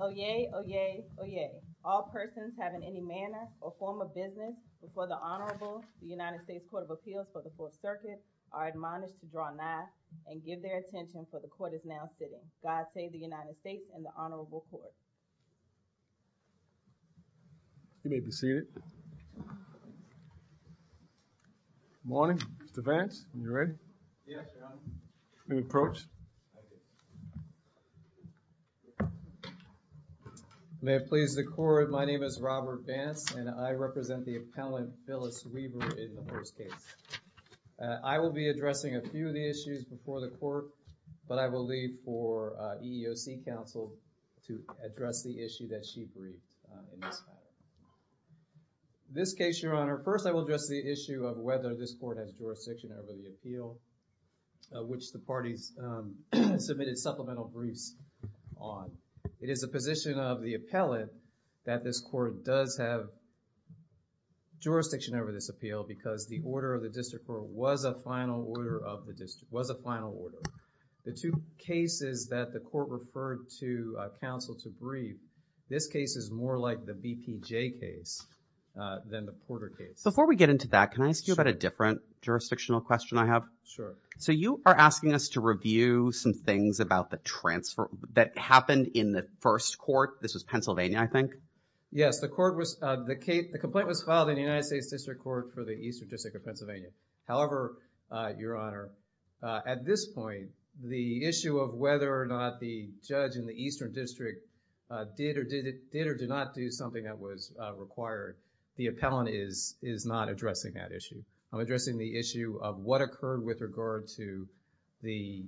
Oyez! Oyez! Oyez! All persons having any manner or form of business before the Honorable United States Court of Appeals for the Fourth Circuit are admonished to draw an eye and give their attention for the court is now sitting. God save the United States and the Honorable Court. You may be seated. Good morning. Mr. Vance, are you ready? Yes, Your Honor. You may approach. May it please the court, my name is Robert Vance and I represent the appellant Phyllis Weaver in the first case. I will be addressing a few of the issues before the court but I will leave for EEOC counsel to address the issue that she briefed in this matter. In this case, Your Honor, first I will address the issue of whether this court has jurisdiction over the appeal which the parties submitted supplemental briefs on. It is the position of the appellant that this court does have jurisdiction over this appeal because the order of the district court was a final order of the district court. The court referred to counsel to brief. This case is more like the BPJ case than the Porter case. Before we get into that, can I ask you about a different jurisdictional question I have? Sure. So you are asking us to review some things about the transfer that happened in the first court. This was Pennsylvania, I think? Yes, the court was, the complaint was filed in the United States District Court for the East District of Pennsylvania. However, Your Honor, at this point the issue of whether or not the judge in the Eastern District did or did not do something that was required, the appellant is not addressing that issue. I'm addressing the issue of what occurred with regard to the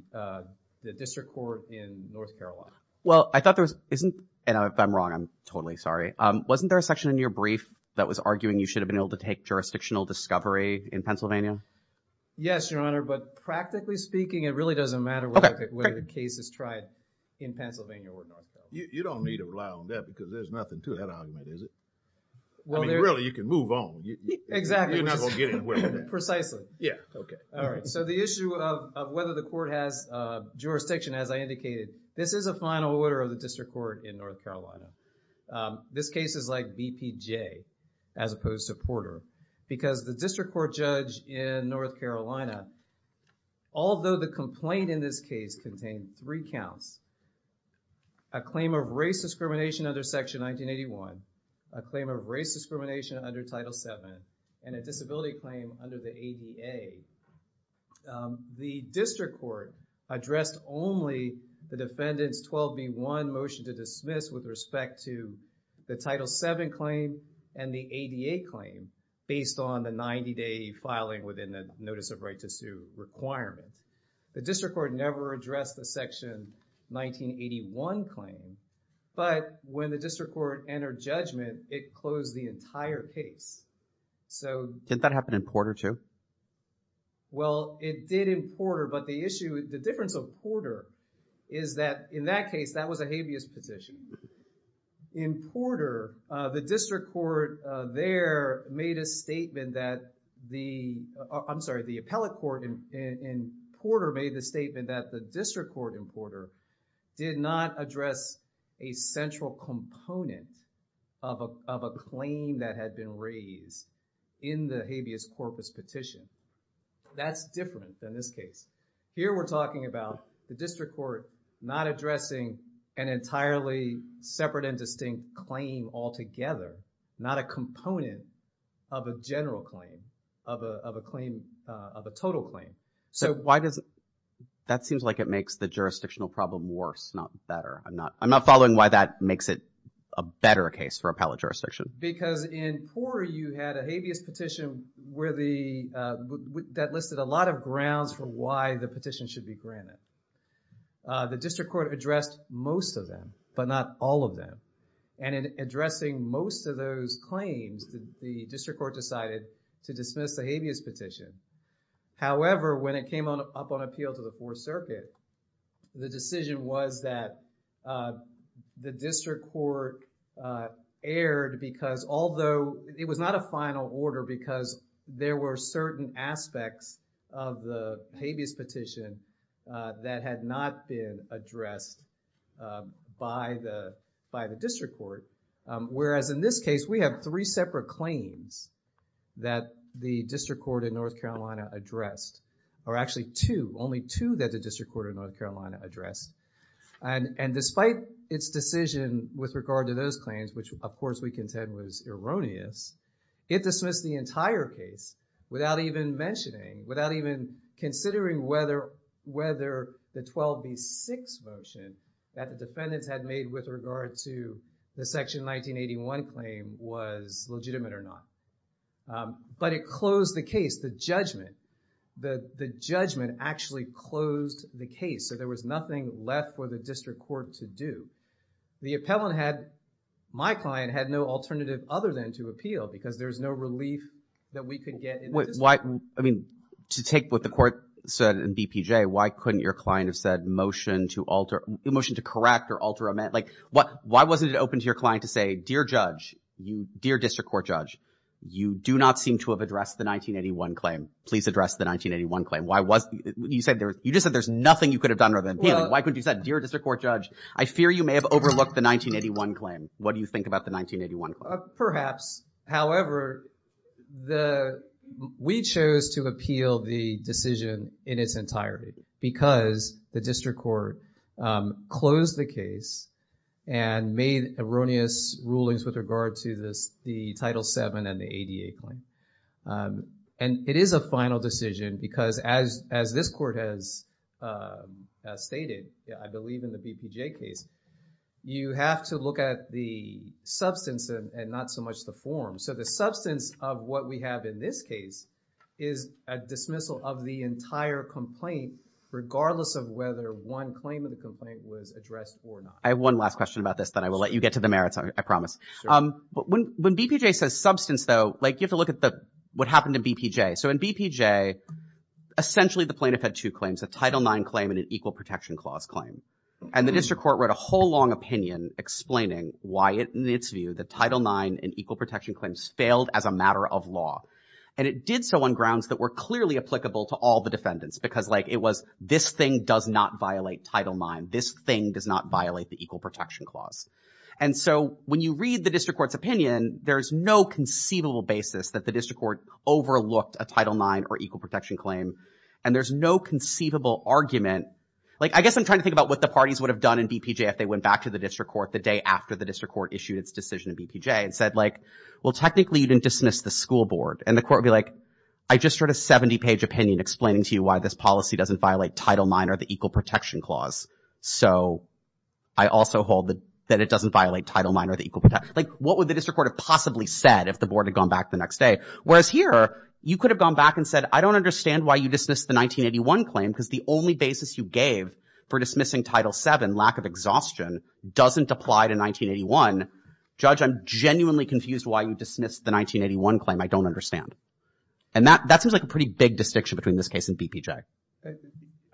district court in North Carolina. Well, I thought there was, isn't, and if I'm wrong, I'm totally sorry. Wasn't there a section in your brief that was arguing you should have been able to take jurisdictional discovery in Pennsylvania? Yes, Your Honor, but practically speaking, it really doesn't matter whether the case is tried in Pennsylvania or North Carolina. You don't need to rely on that because there's nothing to that argument, is it? I mean, really, you can move on. Exactly. You're not going to get anywhere with that. Precisely. Yeah. Okay. All right. So the issue of whether the court has jurisdiction, as I indicated, this is a final order of the district court in North Carolina. This case is like BPJ as opposed to Porter because the district court judge in North Carolina although the complaint in this case contained three counts, a claim of race discrimination under Section 1981, a claim of race discrimination under Title VII, and a disability claim under the ADA, the district court addressed only the defendant's 12 v. 1 motion to dismiss with respect to the Title VII claim and the ADA claim based on the 90-day filing within the notice of right to requirement. The district court never addressed the Section 1981 claim, but when the district court entered judgment, it closed the entire case. So... Did that happen in Porter too? Well, it did in Porter, but the issue, the difference of Porter is that in that case, that was a habeas petition. In Porter, the district court there made a statement that the, I'm sorry, the appellate court in Porter made the statement that the district court in Porter did not address a central component of a claim that had been raised in the habeas corpus petition. That's different than this case. Here, we're talking about the district court not addressing an entirely separate and distinct claim altogether, not a component of a general claim. Of a claim, of a total claim. So why does... That seems like it makes the jurisdictional problem worse, not better. I'm not following why that makes it a better case for appellate jurisdiction. Because in Porter, you had a habeas petition where the, that listed a lot of grounds for why the petition should be granted. The district court addressed most of them, but not all of them. And in addressing most of those claims, the district court decided to dismiss the habeas petition. However, when it came on up on appeal to the Fourth Circuit, the decision was that the district court erred because although it was not a final order because there were certain aspects of the habeas petition that had not been addressed by the district court. Whereas in this case, we have three separate claims that the district court in North Carolina addressed. Or actually two, only two that the district court of North Carolina addressed. And despite its decision with regard to those claims, which of course we contend was erroneous, it dismissed the entire case without even mentioning, without even considering whether, whether the 12B6 motion that the defendants had made with regard to the section 1981 claim was legitimate or not. But it closed the case, the judgment, the, the judgment actually closed the case. So there was nothing left for the district court to do. The appellant had, my client had no alternative other than to appeal because there's no relief that we could get in the district court. Why, I mean, to take what the court said in BPJ, why couldn't your client have said motion to alter, motion to correct or alter amend, like what, why wasn't it open to your client to say, dear judge, dear district court judge, you do not seem to have addressed the 1981 claim. Please address the 1981 claim. Why was, you said there, you just said there's nothing you could have done rather than appealing. Why couldn't you have said, dear district court judge, I fear you may have overlooked the 1981 claim. What do you think about the 1981 claim? Perhaps. However, the, we chose to appeal the decision in its entirety because the district court closed the case and made erroneous rulings with regard to this, the Title VII and the ADA claim. And it is a final decision because as, as this court has stated, I believe in the BPJ case, you have to look at the substance and not so much the form. So the substance of what we have in this case is a dismissal of the entire complaint, regardless of whether one claim of the complaint was addressed or not. I have one last question about this, then I will let you get to the merits, I promise. Um, but when, when BPJ says substance though, like you have to look at the, what happened to BPJ. So in BPJ, essentially the plaintiff had two claims, a Title IX claim and an Equal Protection Clause claim. And the district court wrote a whole long opinion explaining why it, in its view, the Title IX and Equal Protection Claims failed as a matter of law. And it did so on grounds that were clearly applicable to all the defendants because like it was, this thing does not violate Title IX. This thing does not violate the Equal Protection Clause. And so when you read the district court's opinion, there's no conceivable basis that the district court overlooked a Title IX or Equal Protection Claim. And there's no conceivable argument. Like, I guess I'm trying to think about what the parties would have done in BPJ if they went back to the district court the day after the district court issued its decision in BPJ and said like, well, technically you didn't dismiss the school board. And the court would be like, I just wrote a 70-page opinion explaining to you why this policy doesn't violate Title IX or the Equal Protection Clause. So I also hold that it doesn't violate Title IX or the Equal Protection Clause. Like what would the district court have possibly said if the board had gone back the next day? Whereas here, you could have gone back and said, I don't understand why you dismissed the 1981 claim because the only basis you gave for dismissing Title VII, lack of exhaustion, doesn't apply to 1981. Judge, I'm genuinely confused why you dismissed the 1981 claim. I don't understand. And that seems like a pretty big distinction between this case and BPJ.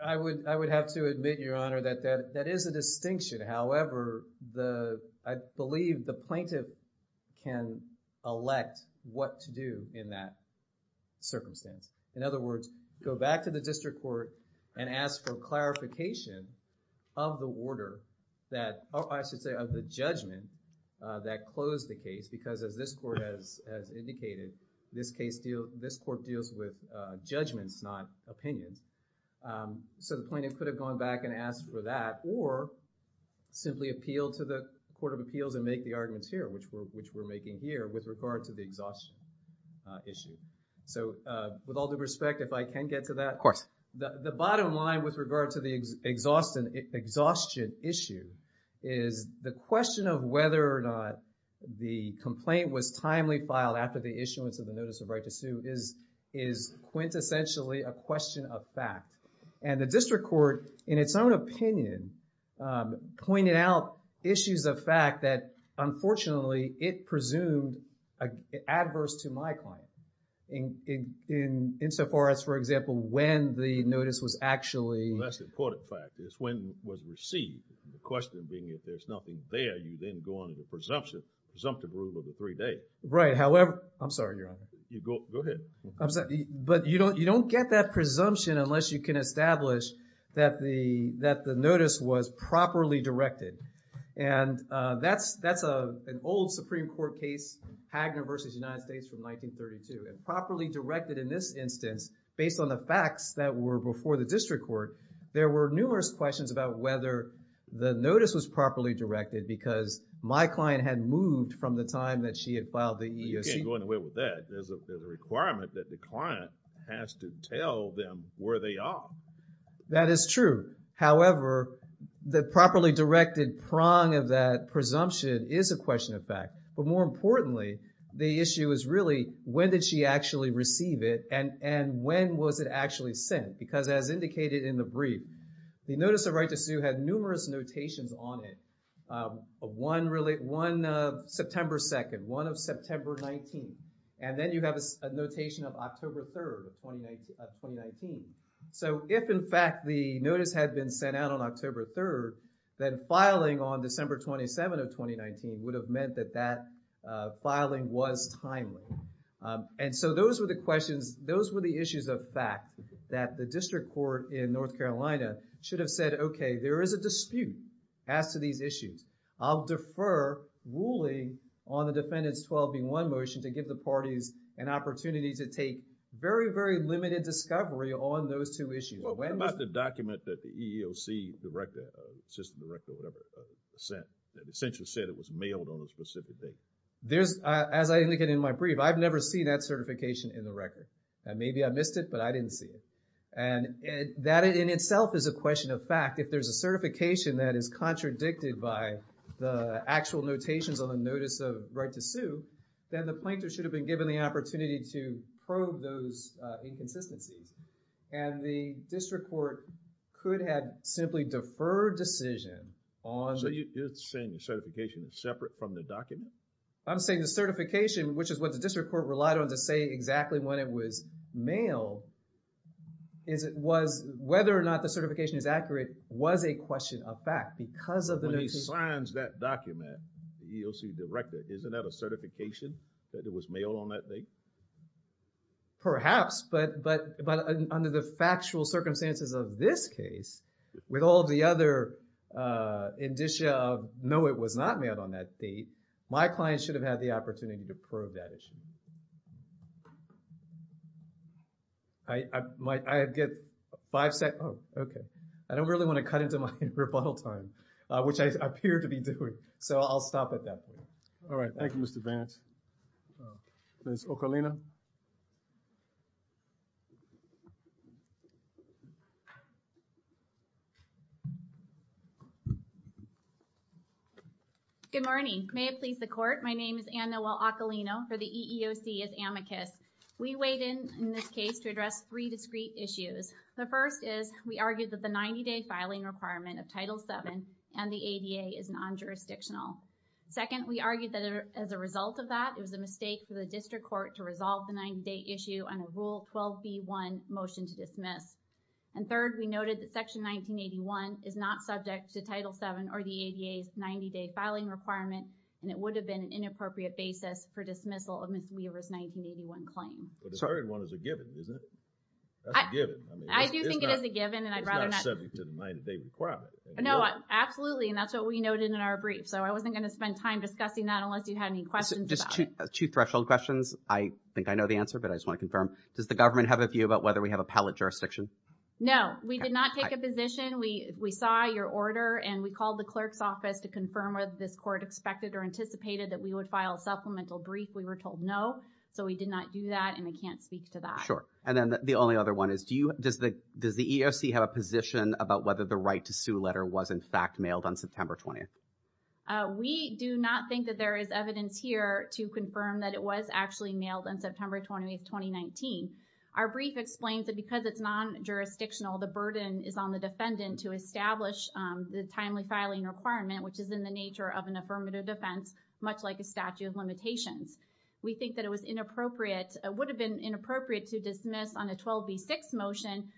I would have to admit, Your Honor, that that is a distinction. However, the, I believe the plaintiff can elect what to do in that circumstance. In other words, go back to the district court and ask for clarification of the order that, or I should say of the judgment that closed the case. Because as this court has, has indicated, this case deal, this court deals with judgments, not opinions. So the plaintiff could have gone back and asked for that or simply appealed to the Court of Appeals and make the arguments here, which we're, which we're making here with regard to the exhaustion issue. So with all due respect, if I can get to that. Of course. The, the bottom line with regard to the exhaustion, exhaustion issue is the question of whether or not the complaint was timely filed after the issuance of the Notice of Right to Sue is, is quintessentially a question of fact. And the district court, in its own opinion, pointed out issues of fact that, unfortunately, it presumed adverse to my client. In, in, insofar as, for example, when the notice was actually. That's an important fact. It's when it was received. The question being if there's nothing there, you then go on to the presumption, presumptive rule of the three days. Right. However, I'm sorry, Your Honor. You go, go ahead. I'm sorry, but you don't, you don't get that presumption unless you can establish that the, that the notice was properly directed. And that's, that's a, an old Supreme Court case, Hagner versus United States from 1932. And properly directed in this instance, based on the facts that were before the district court, there were numerous questions about whether the notice was properly directed because my client had moved from the time that she had filed the EEOC. There's a requirement that the client has to tell them where they are. That is true. However, the properly directed prong of that presumption is a question of fact. But more importantly, the issue is really when did she actually receive it? And, and when was it actually sent? Because as indicated in the brief, the notice of right to sue had numerous notations on it. One really, one of September 2nd, one of September 19th. And then you have a notation of October 3rd of 2019. So if in fact the notice had been sent out on October 3rd, then filing on December 27th of 2019 would have meant that that filing was timely. And so those were the questions, those were the issues of fact that the district court in North Carolina should have said, okay, there is a dispute as to these issues. I'll defer ruling on the defendant's 12B1 motion to give the parties an opportunity to take very, very limited discovery on those two issues. Well, what about the document that the EEOC director, system director or whatever sent that essentially said it was mailed on a specific date? There's, as I indicated in my brief, I've never seen that certification in the record. And maybe I missed it, but I didn't see it. And that in itself is a question of fact. If there's a certification that is contradicted by the actual notations on the notice of right to sue, then the plaintiff should have been given the opportunity to probe those inconsistencies. And the district court could have simply deferred decision on... So you're saying the certification is separate from the document? I'm saying the certification, which is what the district court relied on to say exactly when it was mailed, is it was, whether or not the certification is accurate was a question of fact because of the... When he signs that document, the EEOC director, isn't that a certification that it was mailed on that date? Perhaps, but under the factual circumstances of this case, with all of the other indicia of no, it was not mailed on that date, my client should have had the opportunity to probe that issue. I might, I get five seconds. Oh, okay. I don't really want to cut into my rebuttal time, which I appear to be doing. So I'll stop at that point. All right. Thank you, Mr. Vance. Ms. Ocalino. Good morning. May it please the court. My name is Anne-Noel Ocalino for the EEOC as amicus. We weighed in in this case to address three discrete issues. The first is we argued that the 90-day filing requirement of Title VII and the ADA is non-jurisdictional. Second, we argued that as a result of that, it was a mistake for the district court to resolve the 90-day issue on a Rule 12b1 motion to dismiss. And third, we noted that Section 1981 is not subject to Title VII or the ADA's 90-day filing requirement. And it would have been an inappropriate basis for dismissal of Ms. Weaver's 1981 claim. But the third one is a given, isn't it? That's a given. I do think it is a given. And I'd rather not... It's not subject to the 90-day requirement. No, absolutely. And that's what we noted in our brief. So I wasn't going to spend time discussing that unless you had any questions about it. Just two threshold questions. I think I know the answer, but I just want to confirm. Does the government have a view about whether we have a pallet jurisdiction? No, we did not take a position. We saw your order and we called the clerk's office to confirm whether this court expected or anticipated that we would file a supplemental brief. We were told no. So we did not do that. And I can't speak to that. And then the only other one is, does the EEOC have a position about whether the right to sue letter was in fact mailed on September 20th? We do not think that there is evidence here to confirm that it was actually mailed on September 20th, 2019. Our brief explains that because it's non-jurisdictional, the burden is on the defendant to establish the timely filing requirement, which is in the nature of an affirmative defense, like a statute of limitations. We think that it was inappropriate, it would have been inappropriate to dismiss on a 12B6 motion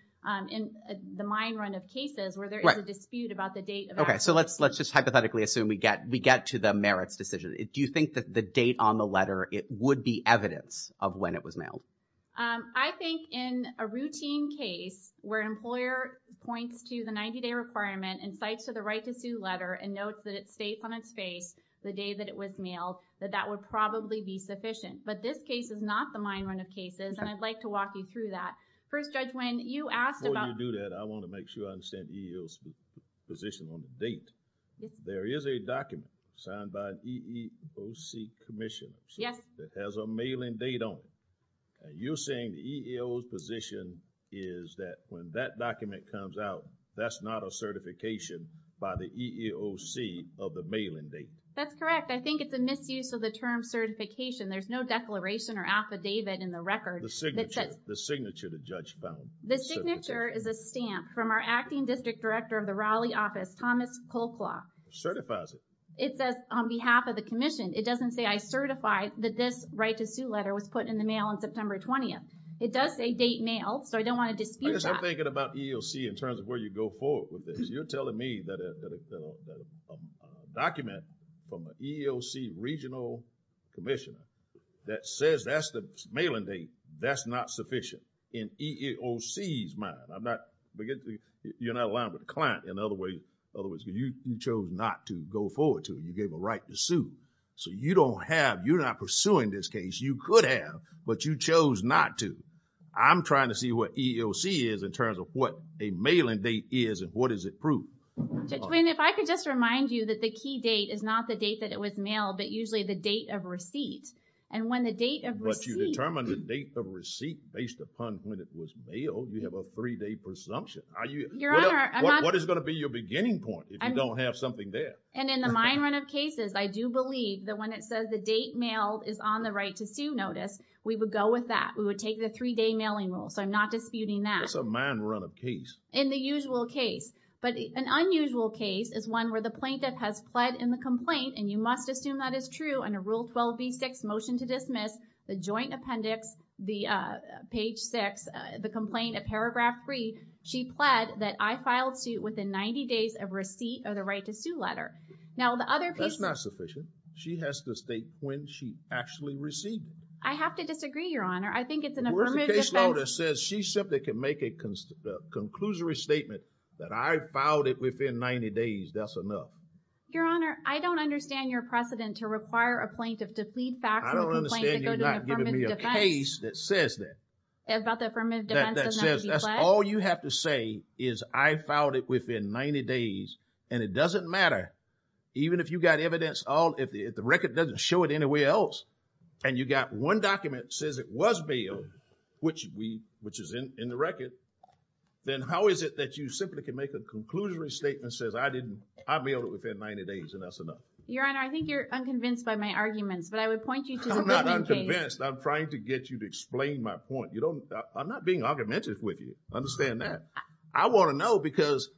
in the mine run of cases where there is a dispute about the date. Okay, so let's just hypothetically assume we get to the merits decision. Do you think that the date on the letter, it would be evidence of when it was mailed? I think in a routine case where an employer points to the 90-day requirement and cites to the right to sue letter and notes that it stays on its face the day that it was mailed, that that would probably be sufficient. But this case is not the mine run of cases and I'd like to walk you through that. First, Judge, when you asked about- Before you do that, I want to make sure I understand the EEOC's position on the date. There is a document signed by an EEOC commission. Yes. That has a mailing date on it. You're saying the EEOC's position is that when that document comes out, that's not a certification by the EEOC of the mailing date? That's correct. I think it's a misuse of the term certification. There's no declaration or affidavit in the record that says- The signature the judge found. The signature is a stamp from our acting district director of the Raleigh office, Thomas Colclough. Certifies it. It says on behalf of the commission. It doesn't say I certify that this right to sue letter was put in the mail on September 20th. It does say date mailed, so I don't want to dispute that. I'm thinking about EEOC in terms of where you go forward with this. You're telling me that a document from an EEOC regional commissioner that says that's the mailing date, that's not sufficient. In EEOC's mind, I'm not, you're not aligned with the client in other ways. In other words, you chose not to go forward to it. You gave a right to sue. So you don't have, you're not pursuing this case. You could have, but you chose not to. I'm trying to see what EEOC is in terms of what a mailing date is and what does it prove. Judge Wayne, if I could just remind you that the key date is not the date that it was mailed, but usually the date of receipt. And when the date of receipt- But you determined the date of receipt based upon when it was mailed. You have a three-day presumption. Are you- Your Honor, I'm not- What is going to be your beginning point if you don't have something there? And in the mine run of cases, I do believe that when it says the date mailed is on the right to sue notice, we would go with that. We would take the three-day mailing rule. So I'm not disputing that. That's a mine run of case. In the usual case. But an unusual case is one where the plaintiff has pled in the complaint, and you must assume that is true under Rule 12b-6, motion to dismiss, the joint appendix, the page six, the complaint, a paragraph free. She pled that I filed suit within 90 days of receipt of the right to sue letter. Now the other piece- That's not sufficient. She has to state when she actually received it. I have to disagree, Your Honor. Where's the case law that says she simply can make a conclusory statement that I filed it within 90 days, that's enough? Your Honor, I don't understand your precedent to require a plaintiff to plead facts with a complaint that go to an affirmative defense. I don't understand you not giving me a case that says that. About the affirmative defense does not need to be pledged? That says that's all you have to say is I filed it within 90 days, and it doesn't matter. Even if you got evidence, if the record doesn't show it anywhere else, and you got one document says it was bailed, which is in the record, then how is it that you simply can make a conclusory statement that says I didn't, I bailed it within 90 days, and that's enough? Your Honor, I think you're unconvinced by my arguments, but I would point you to- I'm not unconvinced. I'm trying to get you to explain my point. I'm not being argumentative with you. Understand that. I want to know because,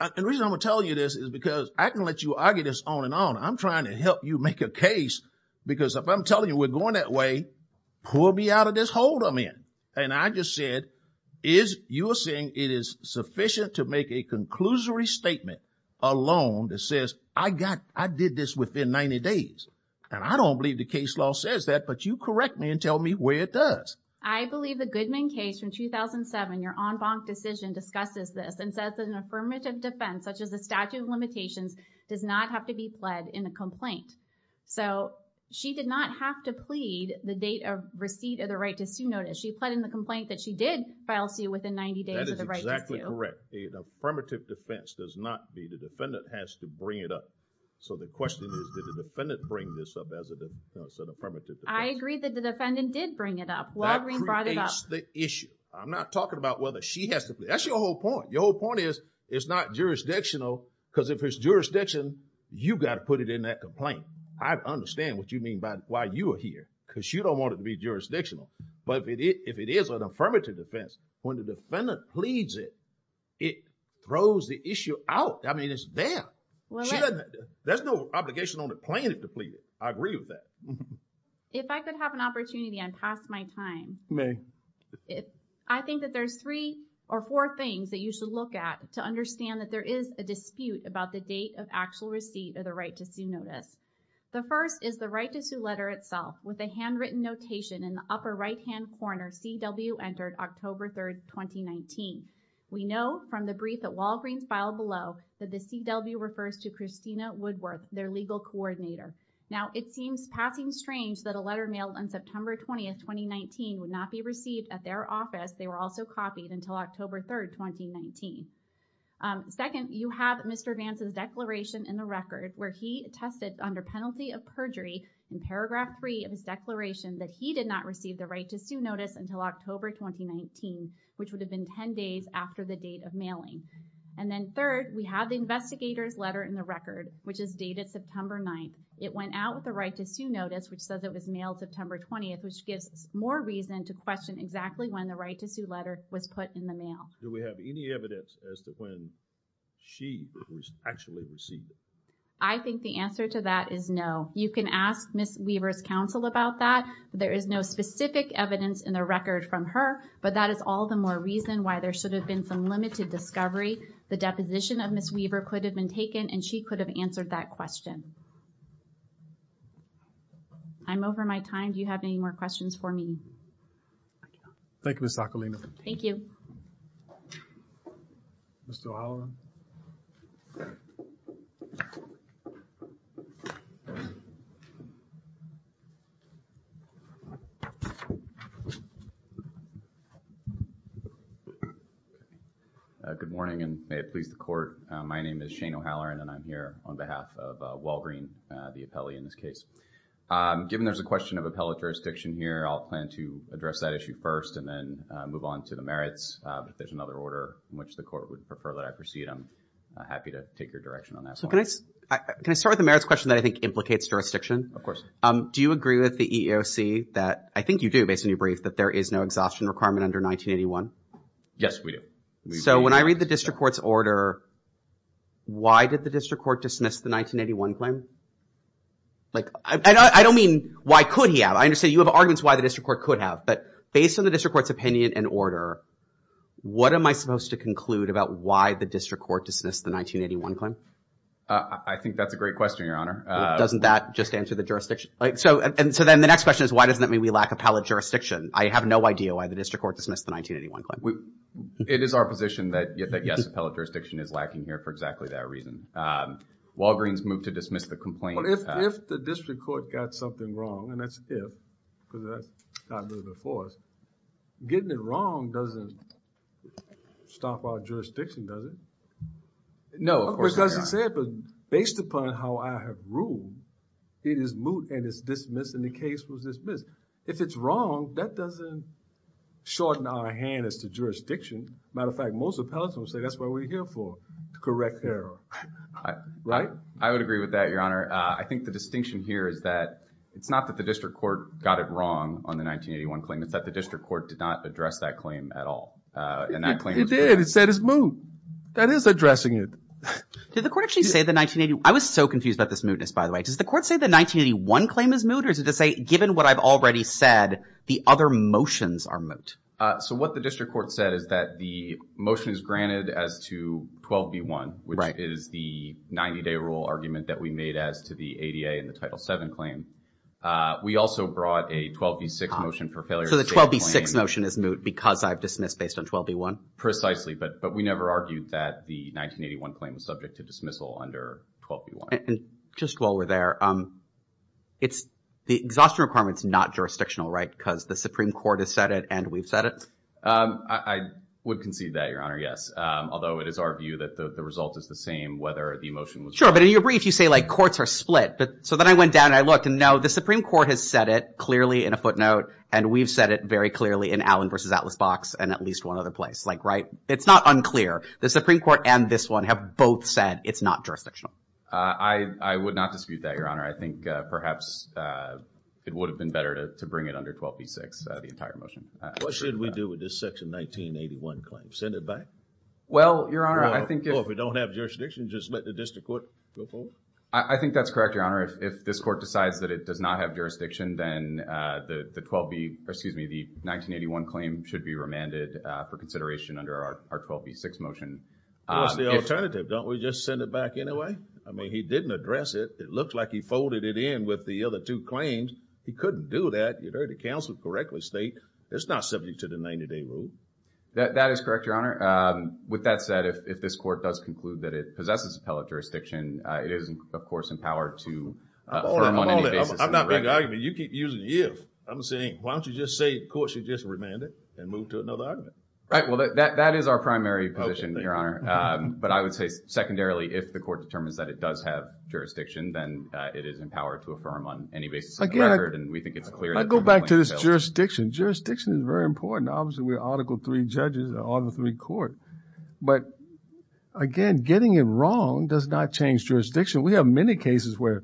and the reason I'm telling you this is because I can let you argue this on and on. I'm trying to help you make a case because if I'm telling you we're going that way, pull me out of this hold I'm in. And I just said, you are saying it is sufficient to make a conclusory statement alone that says I did this within 90 days. And I don't believe the case law says that, but you correct me and tell me where it does. I believe the Goodman case from 2007, your en banc decision discusses this and says an affirmative defense such as the statute of limitations does not have to be pled in a complaint. So, she did not have to plead the date of receipt of the right to sue notice. She pled in the complaint that she did file sue within 90 days of the right to sue. That is exactly correct. The affirmative defense does not need, the defendant has to bring it up. So, the question is, did the defendant bring this up as an affirmative defense? I agree that the defendant did bring it up. Walgreen brought it up. That creates the issue. I'm not talking about whether she has to plead. That's your whole point. Your whole point is it's not jurisdictional because if it's jurisdictional, you got to put it in that complaint. I understand what you mean by why you are here because you don't want it to be jurisdictional. But if it is an affirmative defense, when the defendant pleads it, it throws the issue out. I mean, it's there. There's no obligation on the plaintiff to plead it. I agree with that. If I could have an opportunity, I'd pass my time. May. I think that there's three or four things that you should look at to understand that there is a dispute about the date of actual receipt of the right to sue notice. The first is the right to sue letter itself with a handwritten notation in the upper right hand corner, CW entered October 3rd, 2019. We know from the brief that Walgreens filed below that the CW refers to Christina Woodworth, their legal coordinator. Now, it seems passing strange that a letter mailed on September 20th, 2019 would not be received at their office. They were also copied until October 3rd, 2019. Second, you have Mr. Vance's declaration in the record where he tested under penalty of perjury in paragraph three of his declaration that he did not receive the right to sue notice until October 2019, which would have been 10 days after the date of mailing. And then third, we have the investigator's letter in the record, which is dated September 9th. It went out with the right to sue notice, which says it was mailed September 20th, which gives more reason to question exactly when the right to sue letter was put in the mail. Do we have any evidence as to when she was actually received it? I think the answer to that is no. You can ask Ms. Weaver's counsel about that. There is no specific evidence in the record from her, but that is all the more reason why there should have been some limited discovery. The deposition of Ms. Weaver could have been taken and she could have answered that question. I'm over my time. Do you have any more questions for me? Thank you, Ms. Sakulina. Thank you. Mr. O'Halloran. Good morning and may it please the court. My name is Shane O'Halloran and I'm here on behalf of Walgreen, the appellee in this case. Given there's a question of appellate jurisdiction here, I'll plan to address that issue first and then move on to the merits. If there's another order in which the court would prefer that I proceed, I'm happy to take your direction on that. So can I start with the merits question that I think implicates jurisdiction? Of course. Do you agree with the EEOC that, I think you do based on your brief, that there is no exhaustion requirement under 1981? Yes, we do. So when I read the district court's order, why did the district court dismiss the 1981 claim? Like, I don't mean why could he have. I understand you have arguments why the district court could have. But based on the district court's opinion and order, what am I supposed to conclude about why the district court dismissed the 1981 claim? I think that's a great question, Your Honor. Doesn't that just answer the jurisdiction? Like, so and so then the next question is why doesn't that mean we lack appellate jurisdiction? I have no idea why the district court dismissed the 1981 claim. It is our position that yes, appellate jurisdiction is lacking here for exactly that reason. Walgreens moved to dismiss the complaint. But if, if the district court got something wrong, and that's if, because that's not really the force, getting it wrong doesn't stop our jurisdiction, does it? No, of course not. Of course it doesn't say it, but based upon how I have ruled, it is moot and it's dismissed and the case was dismissed. If it's wrong, that doesn't shorten our hand as to jurisdiction. As a matter of fact, most appellants don't say that's what we're here for, correct error. Right? I would agree with that, Your Honor. I think the distinction here is that it's not that the district court got it wrong on the 1981 claim. It's that the district court did not address that claim at all. It did. It said it's moot. That is addressing it. Did the court actually say the 1980, I was so confused about this mootness, by the way, does the court say the 1981 claim is moot? Or is it to say, given what I've already said, the other motions are moot? So what the district court said is that the motion is granted as to 12B1, which is the 90-day rule argument that we made as to the ADA and the Title VII claim. We also brought a 12B6 motion for failure. So the 12B6 motion is moot because I've dismissed based on 12B1? Precisely, but we never argued that the 1981 claim was subject to dismissal under 12B1. Just while we're there, the exhaustion requirement's not jurisdictional, right? Because the Supreme Court has said it and we've said it? I would concede that, Your Honor, yes. Although it is our view that the result is the same whether the motion was— Sure, but in your brief, you say courts are split. So then I went down and I looked, and no, the Supreme Court has said it clearly in a footnote, and we've said it very clearly in Allen v. Atlas-Box and at least one other place, right? It's not unclear. The Supreme Court and this one have both said it's not jurisdictional. I would not dispute that, Your Honor. I think perhaps it would have been better to bring it under 12B6, the entire motion. What should we do with this Section 1981 claim? Send it back? Well, Your Honor, I think if— Well, if we don't have jurisdiction, just let the district court go forward? I think that's correct, Your Honor. If this court decides that it does not have jurisdiction, then the 12B—or excuse me, the 1981 claim should be remanded for consideration under our 12B6 motion. What's the alternative? Don't we just send it back anyway? I mean, he didn't address it. It looks like he folded it in with the other two claims. He couldn't do that. You heard the counsel correctly state it's not subject to the 90-day rule. That is correct, Your Honor. With that said, if this court does conclude that it possesses appellate jurisdiction, it is, of course, empowered to— Hold it, hold it. I'm not making an argument. You keep using if. I'm saying, why don't you just say courts should just remand it and move to another argument? Right. That is our primary position, Your Honor. But I would say secondarily, if the court determines that it does have jurisdiction, then it is empowered to affirm on any basis of the record. And we think it's clear— I go back to this jurisdiction. Jurisdiction is very important. Obviously, we're Article III judges, Article III court. But again, getting it wrong does not change jurisdiction. We have many cases where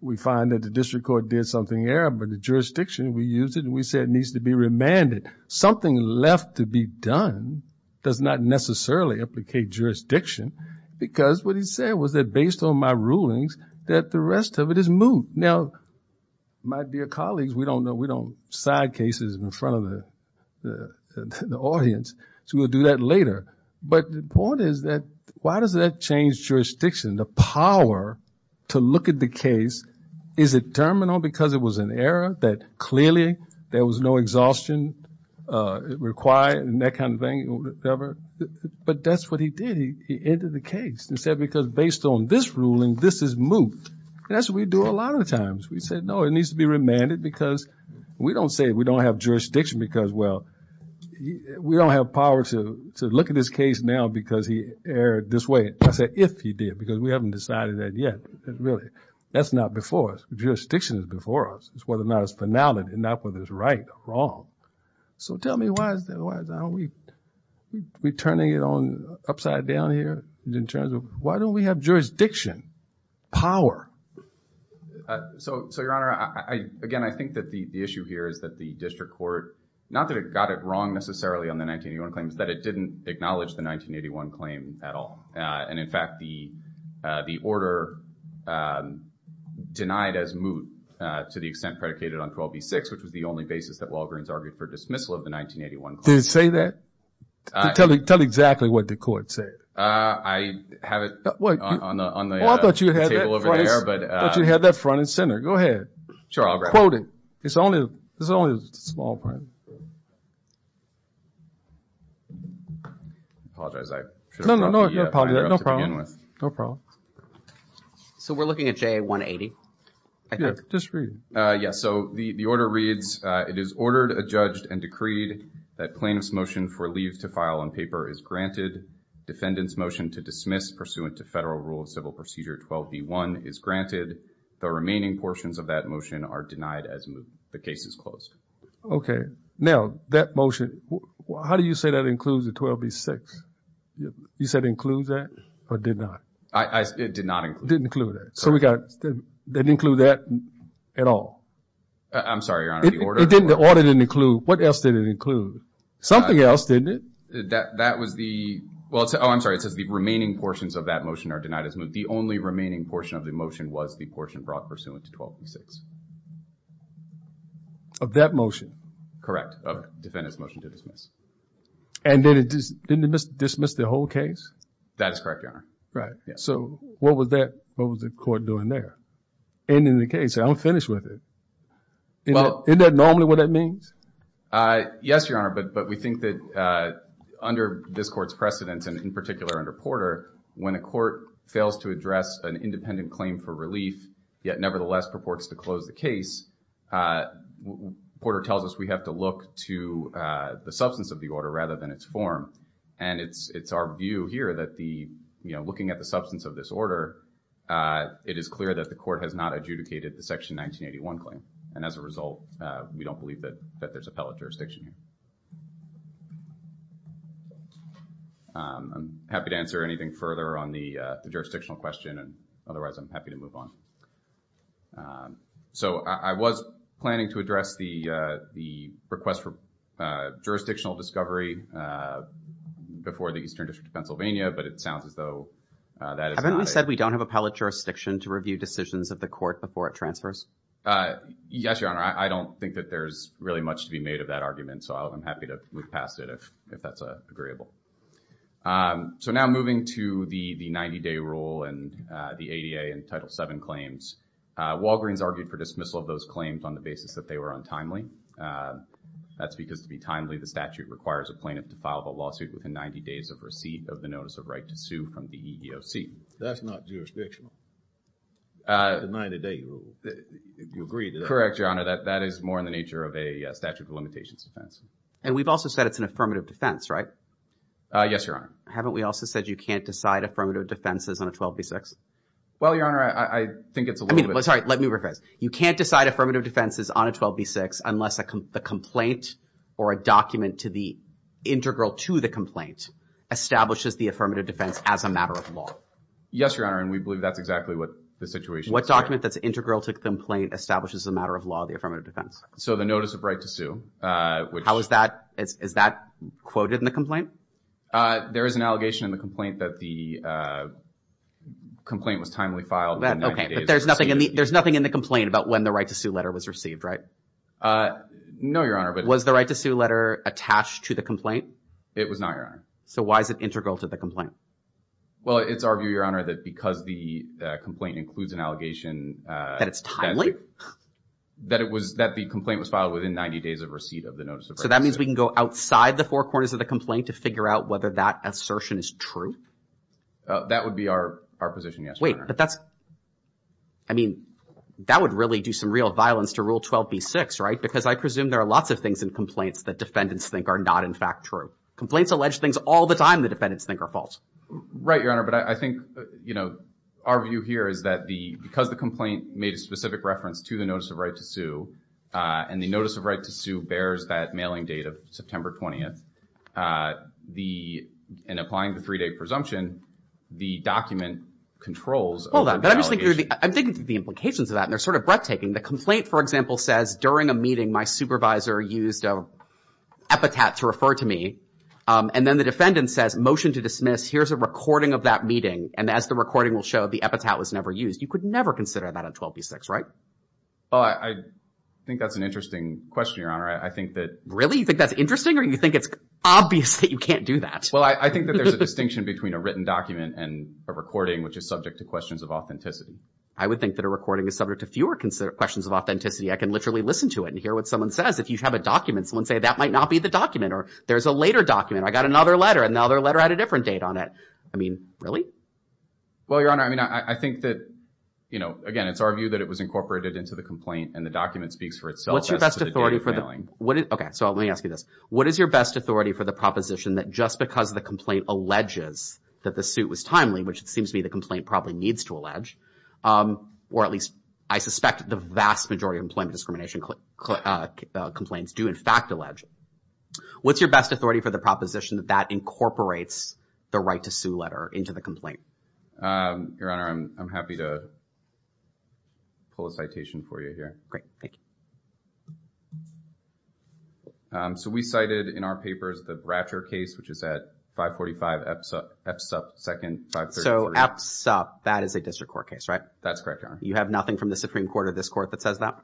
we find that the district court did something errant, but the jurisdiction, we used it and we said it needs to be remanded. Something left to be done does not necessarily implicate jurisdiction because what he said was that based on my rulings that the rest of it is moot. Now, my dear colleagues, we don't side cases in front of the audience, so we'll do that later. But the point is that why does that change jurisdiction? The power to look at the case, is it terminal because it was an error that clearly there was no exhaustion required and that kind of thing. But that's what he did. He ended the case and said because based on this ruling, this is moot. That's what we do a lot of times. We said, no, it needs to be remanded because we don't say we don't have jurisdiction because, well, we don't have power to look at this case now because he erred this way. I said if he did because we haven't decided that yet. Really, that's not before us. Jurisdiction is before us. Whether or not it's finality, not whether it's right or wrong. So tell me, why is that? Why are we turning it on upside down here in terms of why don't we have jurisdiction, So, Your Honor, again, I think that the issue here is that the district court, not that it got it wrong necessarily on the 1981 claims, that it didn't acknowledge the 1981 claim at all. And in fact, the order denied as moot to the extent predicated on 12B-6, which was the only basis that Walgreens argued for dismissal of the 1981 claim. Did it say that? Tell exactly what the court said. I have it on the table over there. Oh, I thought you had that front and center. Go ahead. Sure, I'll grab it. Quote it. It's only a small print. I apologize. No, no, no, no problem. So we're looking at JA-180. Just read it. Yes. So the order reads, it is ordered, adjudged, and decreed that plaintiff's motion for leave to file on paper is granted. Defendant's motion to dismiss pursuant to federal rule of civil procedure 12B-1 is granted. The remaining portions of that motion are denied as the case is closed. Okay. Now that motion, how do you say that includes the 12B-6? You said includes that or did not? I, it did not include. Didn't include that. So we got, didn't include that at all? I'm sorry, Your Honor, the order? It didn't, the order didn't include. What else did it include? Something else, didn't it? That was the, well, oh, I'm sorry. It says the remaining portions of that motion are denied as moved. The only remaining portion of the motion was the portion brought pursuant to 12B-6. Of that motion? Correct, of defendant's motion to dismiss. And then it, didn't it dismiss the whole case? That is correct, Your Honor. Right. So what was that, what was the court doing there? Ending the case. I'm finished with it. Isn't that normally what that means? Yes, Your Honor. But, but we think that under this court's precedence and in particular under Porter, when a court fails to address an independent claim for relief, yet nevertheless purports to close the case, Porter tells us we have to look to the substance of the order rather than its form. And it's, it's our view here that the, you know, looking at the substance of this order, it is clear that the court has not adjudicated the Section 1981 claim. And as a result, we don't believe that, that there's appellate jurisdiction here. I'm happy to answer anything further on the jurisdictional question. And otherwise, I'm happy to move on. Um, so I, I was planning to address the, uh, the request for, uh, jurisdictional discovery, uh, before the Eastern District of Pennsylvania, but it sounds as though, uh, that is not... Haven't we said we don't have appellate jurisdiction to review decisions of the court before it transfers? Uh, yes, Your Honor. I don't think that there's really much to be made of that argument. So I'm happy to move past it if, if that's, uh, agreeable. Um, so now moving to the, the 90-day rule and, uh, the ADA and Title VII claims. Uh, Walgreens argued for dismissal of those claims on the basis that they were untimely. Uh, that's because to be timely, the statute requires a plaintiff to file the lawsuit within 90 days of receipt of the notice of right to sue from the EEOC. That's not jurisdictional. Uh... That's a 90-day rule. You agree to that? Correct, Your Honor. That is more in the nature of a statute of limitations defense. And we've also said it's an affirmative defense, right? Uh, yes, Your Honor. Haven't we also said you can't decide affirmative defenses on a 12b6? Well, Your Honor, I, I think it's a little bit... I mean, sorry, let me rephrase. You can't decide affirmative defenses on a 12b6 unless the complaint or a document to the integral to the complaint establishes the affirmative defense as a matter of law. Yes, Your Honor, and we believe that's exactly what the situation... What document that's integral to the complaint establishes the matter of law of the affirmative defense? So the notice of right to sue, uh, which... How is that, is, is that quoted in the complaint? Uh, there is an allegation in the complaint that the, uh, complaint was timely filed within 90 days... Okay, but there's nothing in the... There's nothing in the complaint about when the right to sue letter was received, right? Uh, no, Your Honor, but... Was the right to sue letter attached to the complaint? It was not, Your Honor. So why is it integral to the complaint? Well, it's our view, Your Honor, that because the complaint includes an allegation, uh... That it's timely? That it was... That the complaint was filed within 90 days of receipt of the notice of right to sue. So that means we can go outside the four corners of the complaint to figure out whether that assertion is true? That would be our, our position, yes, Your Honor. Wait, but that's... I mean, that would really do some real violence to Rule 12b-6, right? Because I presume there are lots of things in complaints that defendants think are not, in fact, true. Complaints allege things all the time the defendants think are false. Right, Your Honor, but I, I think, you know, our view here is that the... Because the complaint made a specific reference to the notice of right to sue, and the notice of right to sue bears that mailing date of September 20th. The... And applying the three-day presumption, the document controls... Hold on, but I'm just thinking through the... I'm thinking through the implications of that, and they're sort of breathtaking. The complaint, for example, says during a meeting, my supervisor used a epitaph to refer to me. And then the defendant says, motion to dismiss, here's a recording of that meeting. And as the recording will show, the epitaph was never used. You could never consider that on 12b-6, right? Well, I, I think that's an interesting question, Your Honor. I think that... Really? You think that's interesting? Or you think it's obvious that you can't do that? Well, I think that there's a distinction between a written document and a recording, which is subject to questions of authenticity. I would think that a recording is subject to fewer questions of authenticity. I can literally listen to it and hear what someone says. If you have a document, someone say, that might not be the document, or there's a later document. I got another letter, another letter at a different date on it. I mean, really? Well, Your Honor, I mean, I think that, you know, again, it's our view that it was incorporated into the complaint, and the document speaks for itself as to the date of mailing. What's your best authority for the... What is... Okay, so let me ask you this. What is your best authority for the proposition that just because the complaint alleges that the suit was timely, which it seems to me the complaint probably needs to allege, or at least I suspect the vast majority of employment discrimination complaints do in fact allege, what's your best authority for the proposition that that incorporates the right to sue letter into the complaint? Your Honor, I'm happy to pull a citation for you here. Great, thank you. So we cited in our papers the Bratcher case, which is at 545 Epsop, Epsop 2nd... So Epsop, that is a district court case, right? That's correct, Your Honor. You have nothing from the Supreme Court or this court that says that?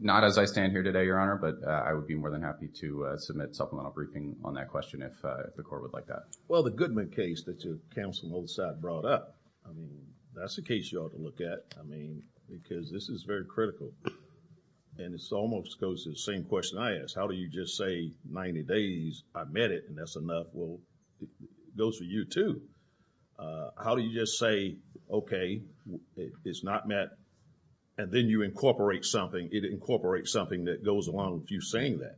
Not as I stand here today, Your Honor, but I would be more than happy to submit supplemental briefing on that question if the court would like that. Well, the Goodman case that your counsel on the other side brought up, I mean, that's a case you ought to look at, I mean, because this is very critical and it almost goes to the same question I asked. How do you just say 90 days, I met it and that's enough? Well, it goes for you too. How do you just say, okay, it's not met and then you incorporate something, it incorporates something that goes along with you saying that?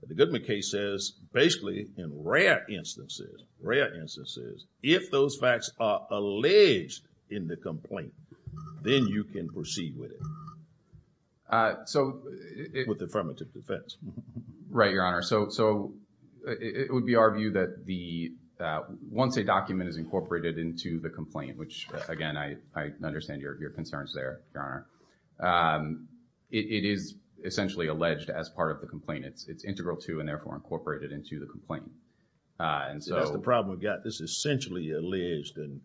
But the Goodman case says, basically, in rare instances, rare instances, if those facts are alleged in the complaint, then you can proceed with it with affirmative defense. Right, Your Honor. So it would be our view that once a document is incorporated into the complaint, which again, I understand your concerns there, Your Honor, it is essentially alleged as part of the complaint. It's integral to and therefore incorporated into the complaint. And so... That's the problem we've got. This is essentially alleged and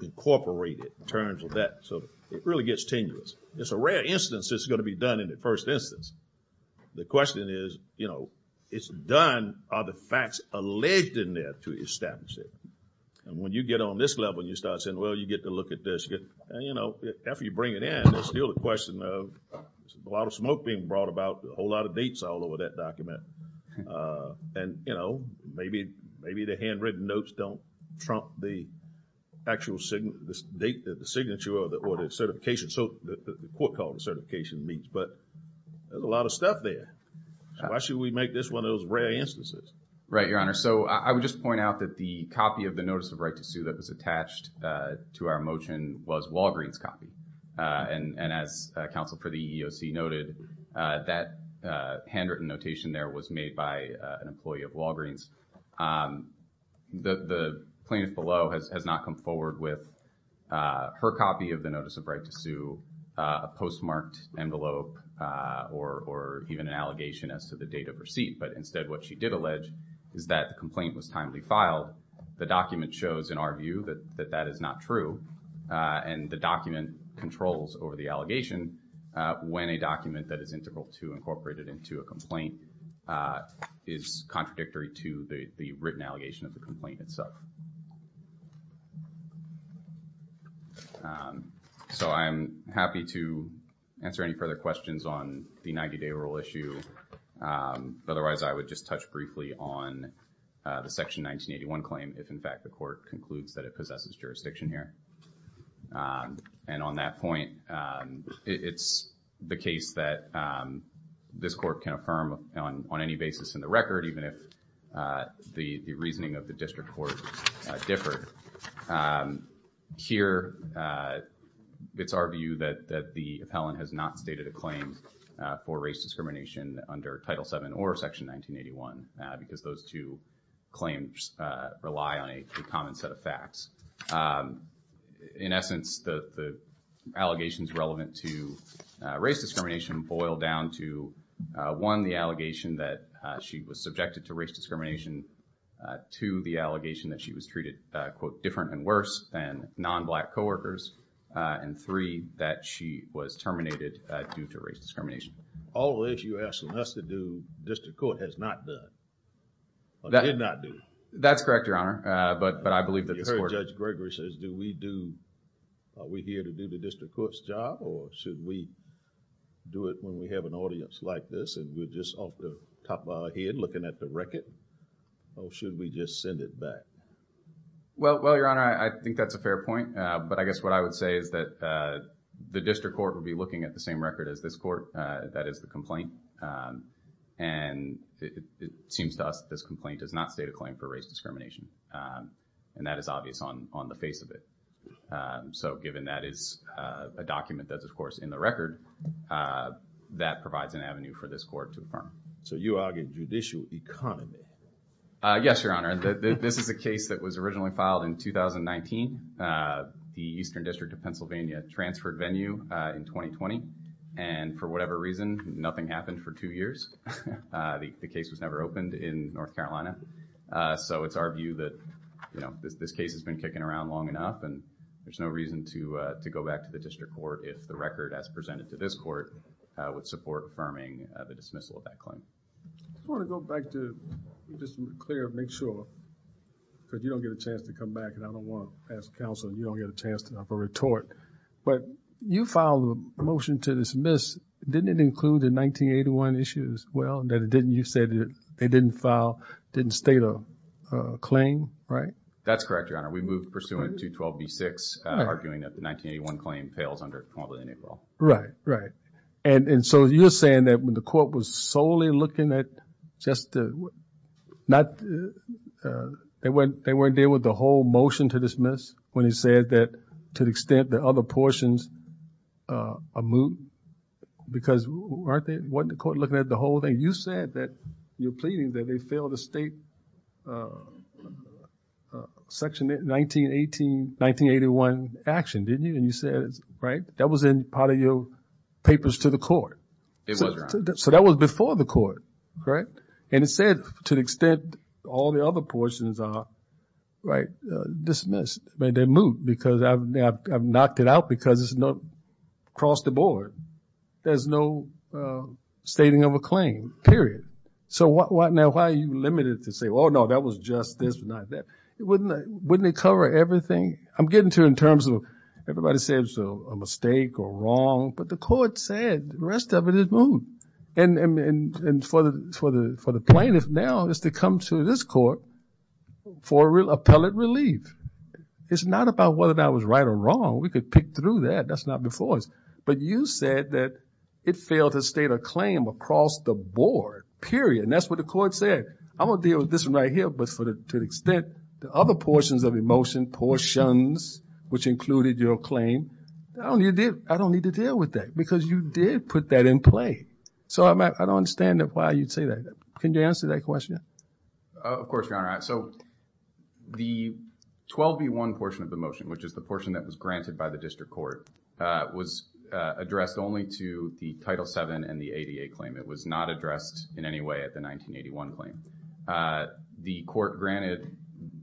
incorporated in terms of that. So it really gets tenuous. It's a rare instance it's going to be done in the first instance. The question is, you know, it's done, are the facts alleged in there to establish it? And when you get on this level, you start saying, well, you get to look at this, and, you know, after you bring it in, there's still the question of a lot of smoke being brought about, a whole lot of dates all over that document. And, you know, maybe the handwritten notes don't trump the actual date, the signature or the certification, the court called the certification meets. But there's a lot of stuff there. Why should we make this one of those rare instances? Right, Your Honor. So I would just point out that the copy of the notice of right to sue that was attached to our motion was Walgreen's copy. And as counsel for the EEOC noted, that handwritten notation there was made by an employee of Walgreen's. The plaintiff below has not come forward with her copy of the notice of right to sue, a postmarked envelope, or even an allegation as to the date of receipt. But instead, what she did allege is that the complaint was timely filed. The document shows in our view that that is not true. And the document controls over the allegation when a document that is integral to incorporated into a complaint is contradictory to the written allegation of the complaint itself. So I'm happy to answer any further questions on the 90-day rule issue. Otherwise, I would just touch briefly on the Section 1981 claim, if in fact the court concludes that it possesses jurisdiction here. And on that point, it's the case that this court can affirm on any basis in the record, even if the reasoning of the district court differed. Here, it's our view that the appellant has not stated a claim for race discrimination under Title VII or Section 1981 because those two claims rely on a common set of facts. In essence, the allegations relevant to race discrimination boil down to one, the allegation that she was subjected to race discrimination. Two, the allegation that she was treated, quote, different and worse than non-Black co-workers. And three, that she was terminated due to race discrimination. All of this you're asking us to do, district court has not done or did not do. That's correct, Your Honor. But I believe that this court... You heard Judge Gregory says, do we do, are we here to do the district court's job or should we do it when we have an audience like this and we're just off the top of our head looking at the record or should we just send it back? Well, Your Honor, I think that's a fair point. But I guess what I would say is that the district court will be looking at the same record as this court, that is the complaint. And it seems to us this complaint does not state a claim for race discrimination and that is obvious on the face of it. So given that is a document that's of course in the record, that provides an avenue for this court to affirm. So you argue judicial economy? Yes, Your Honor. This is a case that was originally filed in 2019. The Eastern District of Pennsylvania transferred venue in 2020. And for whatever reason, nothing happened for two years. The case was never opened in North Carolina. So it's our view that, you know, this case has been kicking around long enough and there's no reason to go back to the district court if the record as presented to this court would support affirming the dismissal of that claim. I want to go back to just clear and make sure because you don't get a chance to come back and I don't want to pass counsel. You don't get a chance to have a retort. But you filed a motion to dismiss. Didn't it include the 1981 issues? Well, you said they didn't file, didn't state a claim, right? That's correct, Your Honor. We moved pursuant to 12b-6 arguing that the 1981 claim pales under complaint. Right. Right. And so you're saying that when the court was solely looking at just the, not, they weren't, they weren't there with the whole motion to dismiss when he said that to the extent the other portions are moot because weren't they, wasn't the court looking at the whole thing? You said that you're pleading that they failed the state section 1918-1981 action, didn't you? And you said, right, that was in part of your papers to the court. It was, Your Honor. So that was before the court, correct? And it said to the extent all the other portions are, right, dismissed. But they're moot because I've knocked it out because it's not across the board. There's no stating of a claim, period. So what now, why are you limited to say, oh, no, that was just this, not that? Wouldn't it cover everything? I'm getting to in terms of everybody says a mistake or wrong, but the court said the rest of it is moot. And for the plaintiff now is to come to this court for appellate relief. It's not about whether that was right or wrong. We could pick through that. That's not before us. But you said that it failed to state a claim across the board, period. And that's what the court said. I'm going to deal with this one right here. But to the extent the other portions of the motion, portions, which included your claim, I don't need to deal with that because you did put that in play. So I don't understand why you'd say that. Can you answer that question? Of course, Your Honor. So the 12B1 portion of the motion, which is the portion that was granted by the district court, was addressed only to the Title VII and the ADA claim. It was not addressed in any way at the 1981 claim. The court granted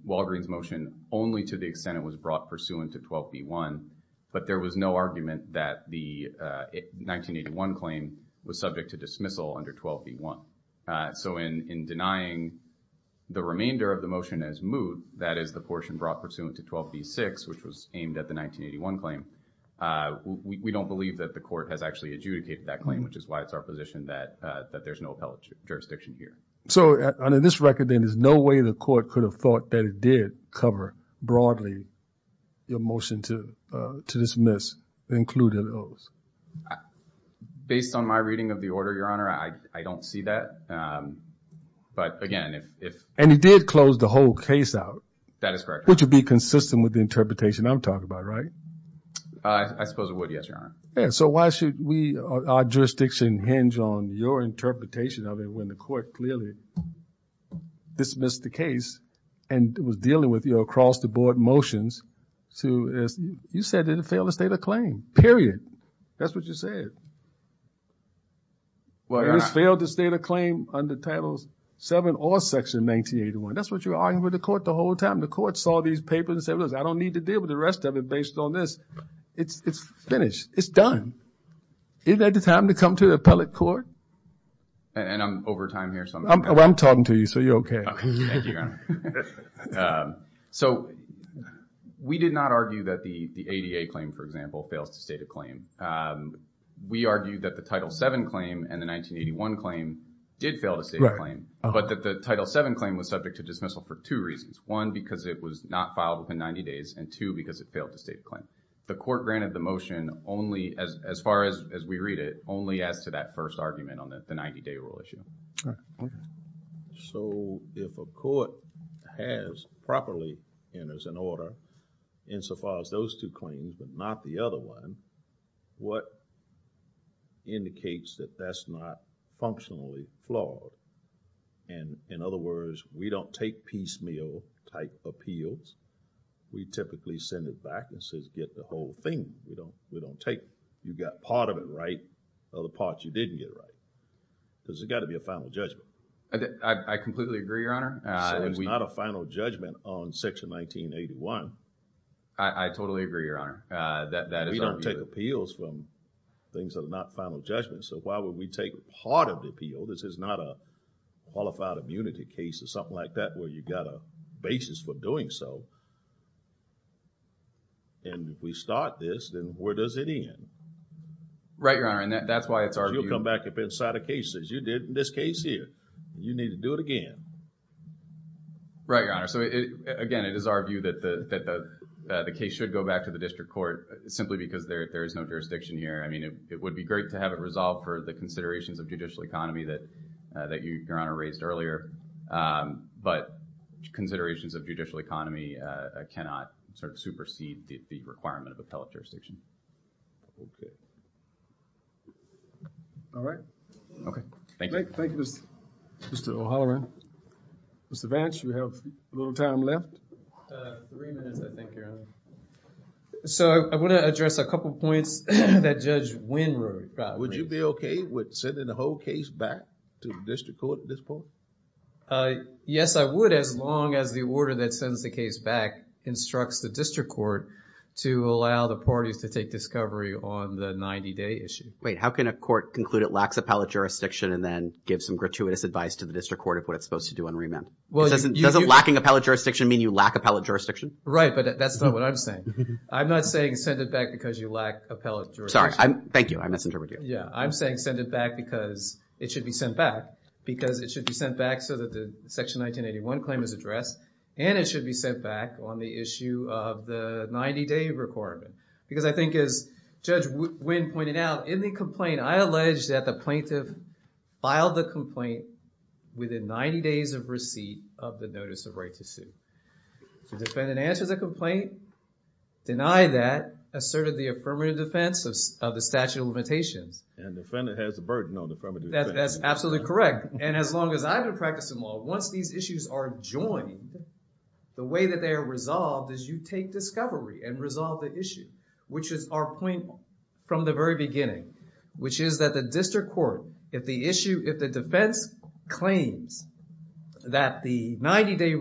Walgreen's motion only to the extent it was brought pursuant to 12B1. But there was no argument that the 1981 claim was subject to dismissal under 12B1. So in denying the remainder of the motion as moot, that is the portion brought pursuant to 12B6, which was aimed at the 1981 claim, we don't believe that the court has actually adjudicated that claim, which is why it's our position that there's no appellate jurisdiction here. So under this record, then, there's no way the court could have thought that it did broadly, your motion to dismiss included those. Based on my reading of the order, Your Honor, I don't see that. But again, if... And he did close the whole case out. That is correct. Which would be consistent with the interpretation I'm talking about, right? I suppose it would, yes, Your Honor. So why should we, our jurisdiction hinge on your interpretation of it when the court clearly dismissed the case and was dealing with your across-the-board motions to... You said it didn't fail the state of claim, period. That's what you said. Well, Your Honor... It has failed the state of claim under Title VII or Section 1981. That's what you were arguing with the court the whole time. The court saw these papers and said, I don't need to deal with the rest of it based on this. It's finished. It's done. Isn't that the time to come to the appellate court? And I'm over time here. I'm talking to you, so you're okay. Okay. Thank you, Your Honor. So we did not argue that the ADA claim, for example, fails to state a claim. We argued that the Title VII claim and the 1981 claim did fail to state a claim. But that the Title VII claim was subject to dismissal for two reasons. One, because it was not filed within 90 days. And two, because it failed to state a claim. The court granted the motion only, as far as we read it, only as to that first argument on the 90-day rule issue. All right. Go ahead. So, if a court has properly enters an order, insofar as those two claims, but not the other one, what indicates that that's not functionally flawed? And in other words, we don't take piecemeal type appeals. We typically send it back and says, get the whole thing. We don't, we don't take. You got part of it right or the part you didn't get right. Because it's got to be a final judgment. I completely agree, Your Honor. So, it's not a final judgment on Section 1981. I totally agree, Your Honor. We don't take appeals from things that are not final judgments. So, why would we take part of the appeal? This is not a qualified immunity case or something like that, where you got a basis for doing so. And if we start this, then where does it end? Right, Your Honor. And that's why it's our view. You'll come back up inside of cases. You did in this case here. You need to do it again. Right, Your Honor. So, again, it is our view that the case should go back to the district court simply because there is no jurisdiction here. I mean, it would be great to have it resolved for the considerations of judicial economy that Your Honor raised earlier. But considerations of judicial economy cannot sort of supersede the requirement of appellate jurisdiction. Okay. All right. Thank you. Thank you, Mr. O'Halloran. Mr. Vance, do we have a little time left? Three minutes, I think, Your Honor. So, I want to address a couple of points that Judge Wynn wrote. Would you be okay with sending the whole case back to the district court at this point? Yes, I would as long as the order that sends the case back instructs the district court to allow the parties to take discovery on the 90-day issue. Wait, how can a court conclude it lacks appellate jurisdiction and then give some gratuitous advice to the district court of what it's supposed to do on remand? Doesn't lacking appellate jurisdiction mean you lack appellate jurisdiction? Right, but that's not what I'm saying. I'm not saying send it back because you lack appellate jurisdiction. Sorry, thank you. I misinterpreted you. Yeah, I'm saying send it back because it should be sent back because it should be sent back so that the Section 1981 claim is addressed and it should be sent back on the issue of the 90-day requirement. Because I think as Judge Wynn pointed out, in the complaint, I allege that the plaintiff filed the complaint within 90 days of receipt of the notice of right to sue. If the defendant answers a complaint, deny that, asserted the affirmative defense of the statute of limitations. And defendant has a burden on affirmative defense. That's absolutely correct. And as long as I've been practicing law, once these issues are joined, the way that they are resolved is you take discovery and resolve the issue, which is our point from the very beginning, which is that the district court, if the issue, if the defense claims that the 90-day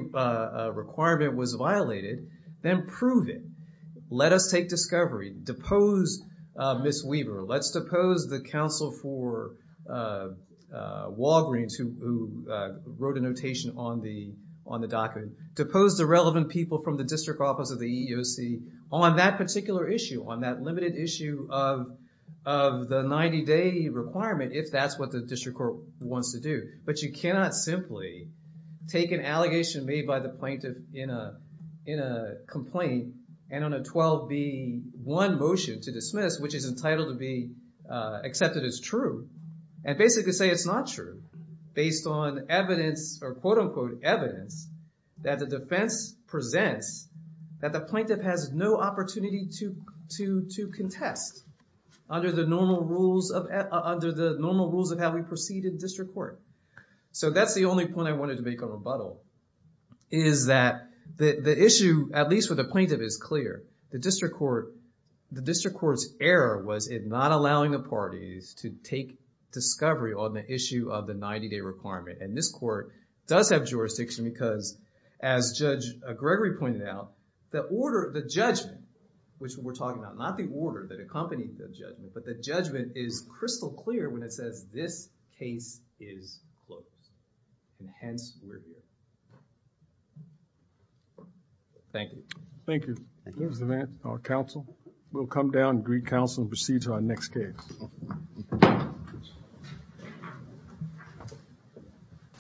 requirement was violated, then prove it. Let us take discovery. Depose Ms. Weaver. Let's depose the counsel for Walgreens who wrote a notation on the document. Depose the relevant people from the district office of the EEOC on that particular issue, on that limited issue of the 90-day requirement, if that's what the district court wants to do. But you cannot simply take an allegation made by the plaintiff in a complaint and on a 12B1 motion to dismiss, which is entitled to be accepted as true, and basically say it's not true, based on evidence or quote unquote evidence that the defense presents that the plaintiff has no opportunity to contest under the normal rules of how we proceed in district court. So that's the only point I wanted to make on rebuttal, is that the issue, at least with the plaintiff, is clear. The district court's error was in not allowing the parties to take discovery on the issue of the 90-day requirement. And this court does have jurisdiction because, as Judge Gregory pointed out, the order, the judgment, which we're talking about, not the order that accompanied the judgment, but the judgment is crystal clear when it says this case is closed. And hence, we're here. Thank you. Thank you. There's the man, our counsel. We'll come down and greet counsel and proceed to our next case.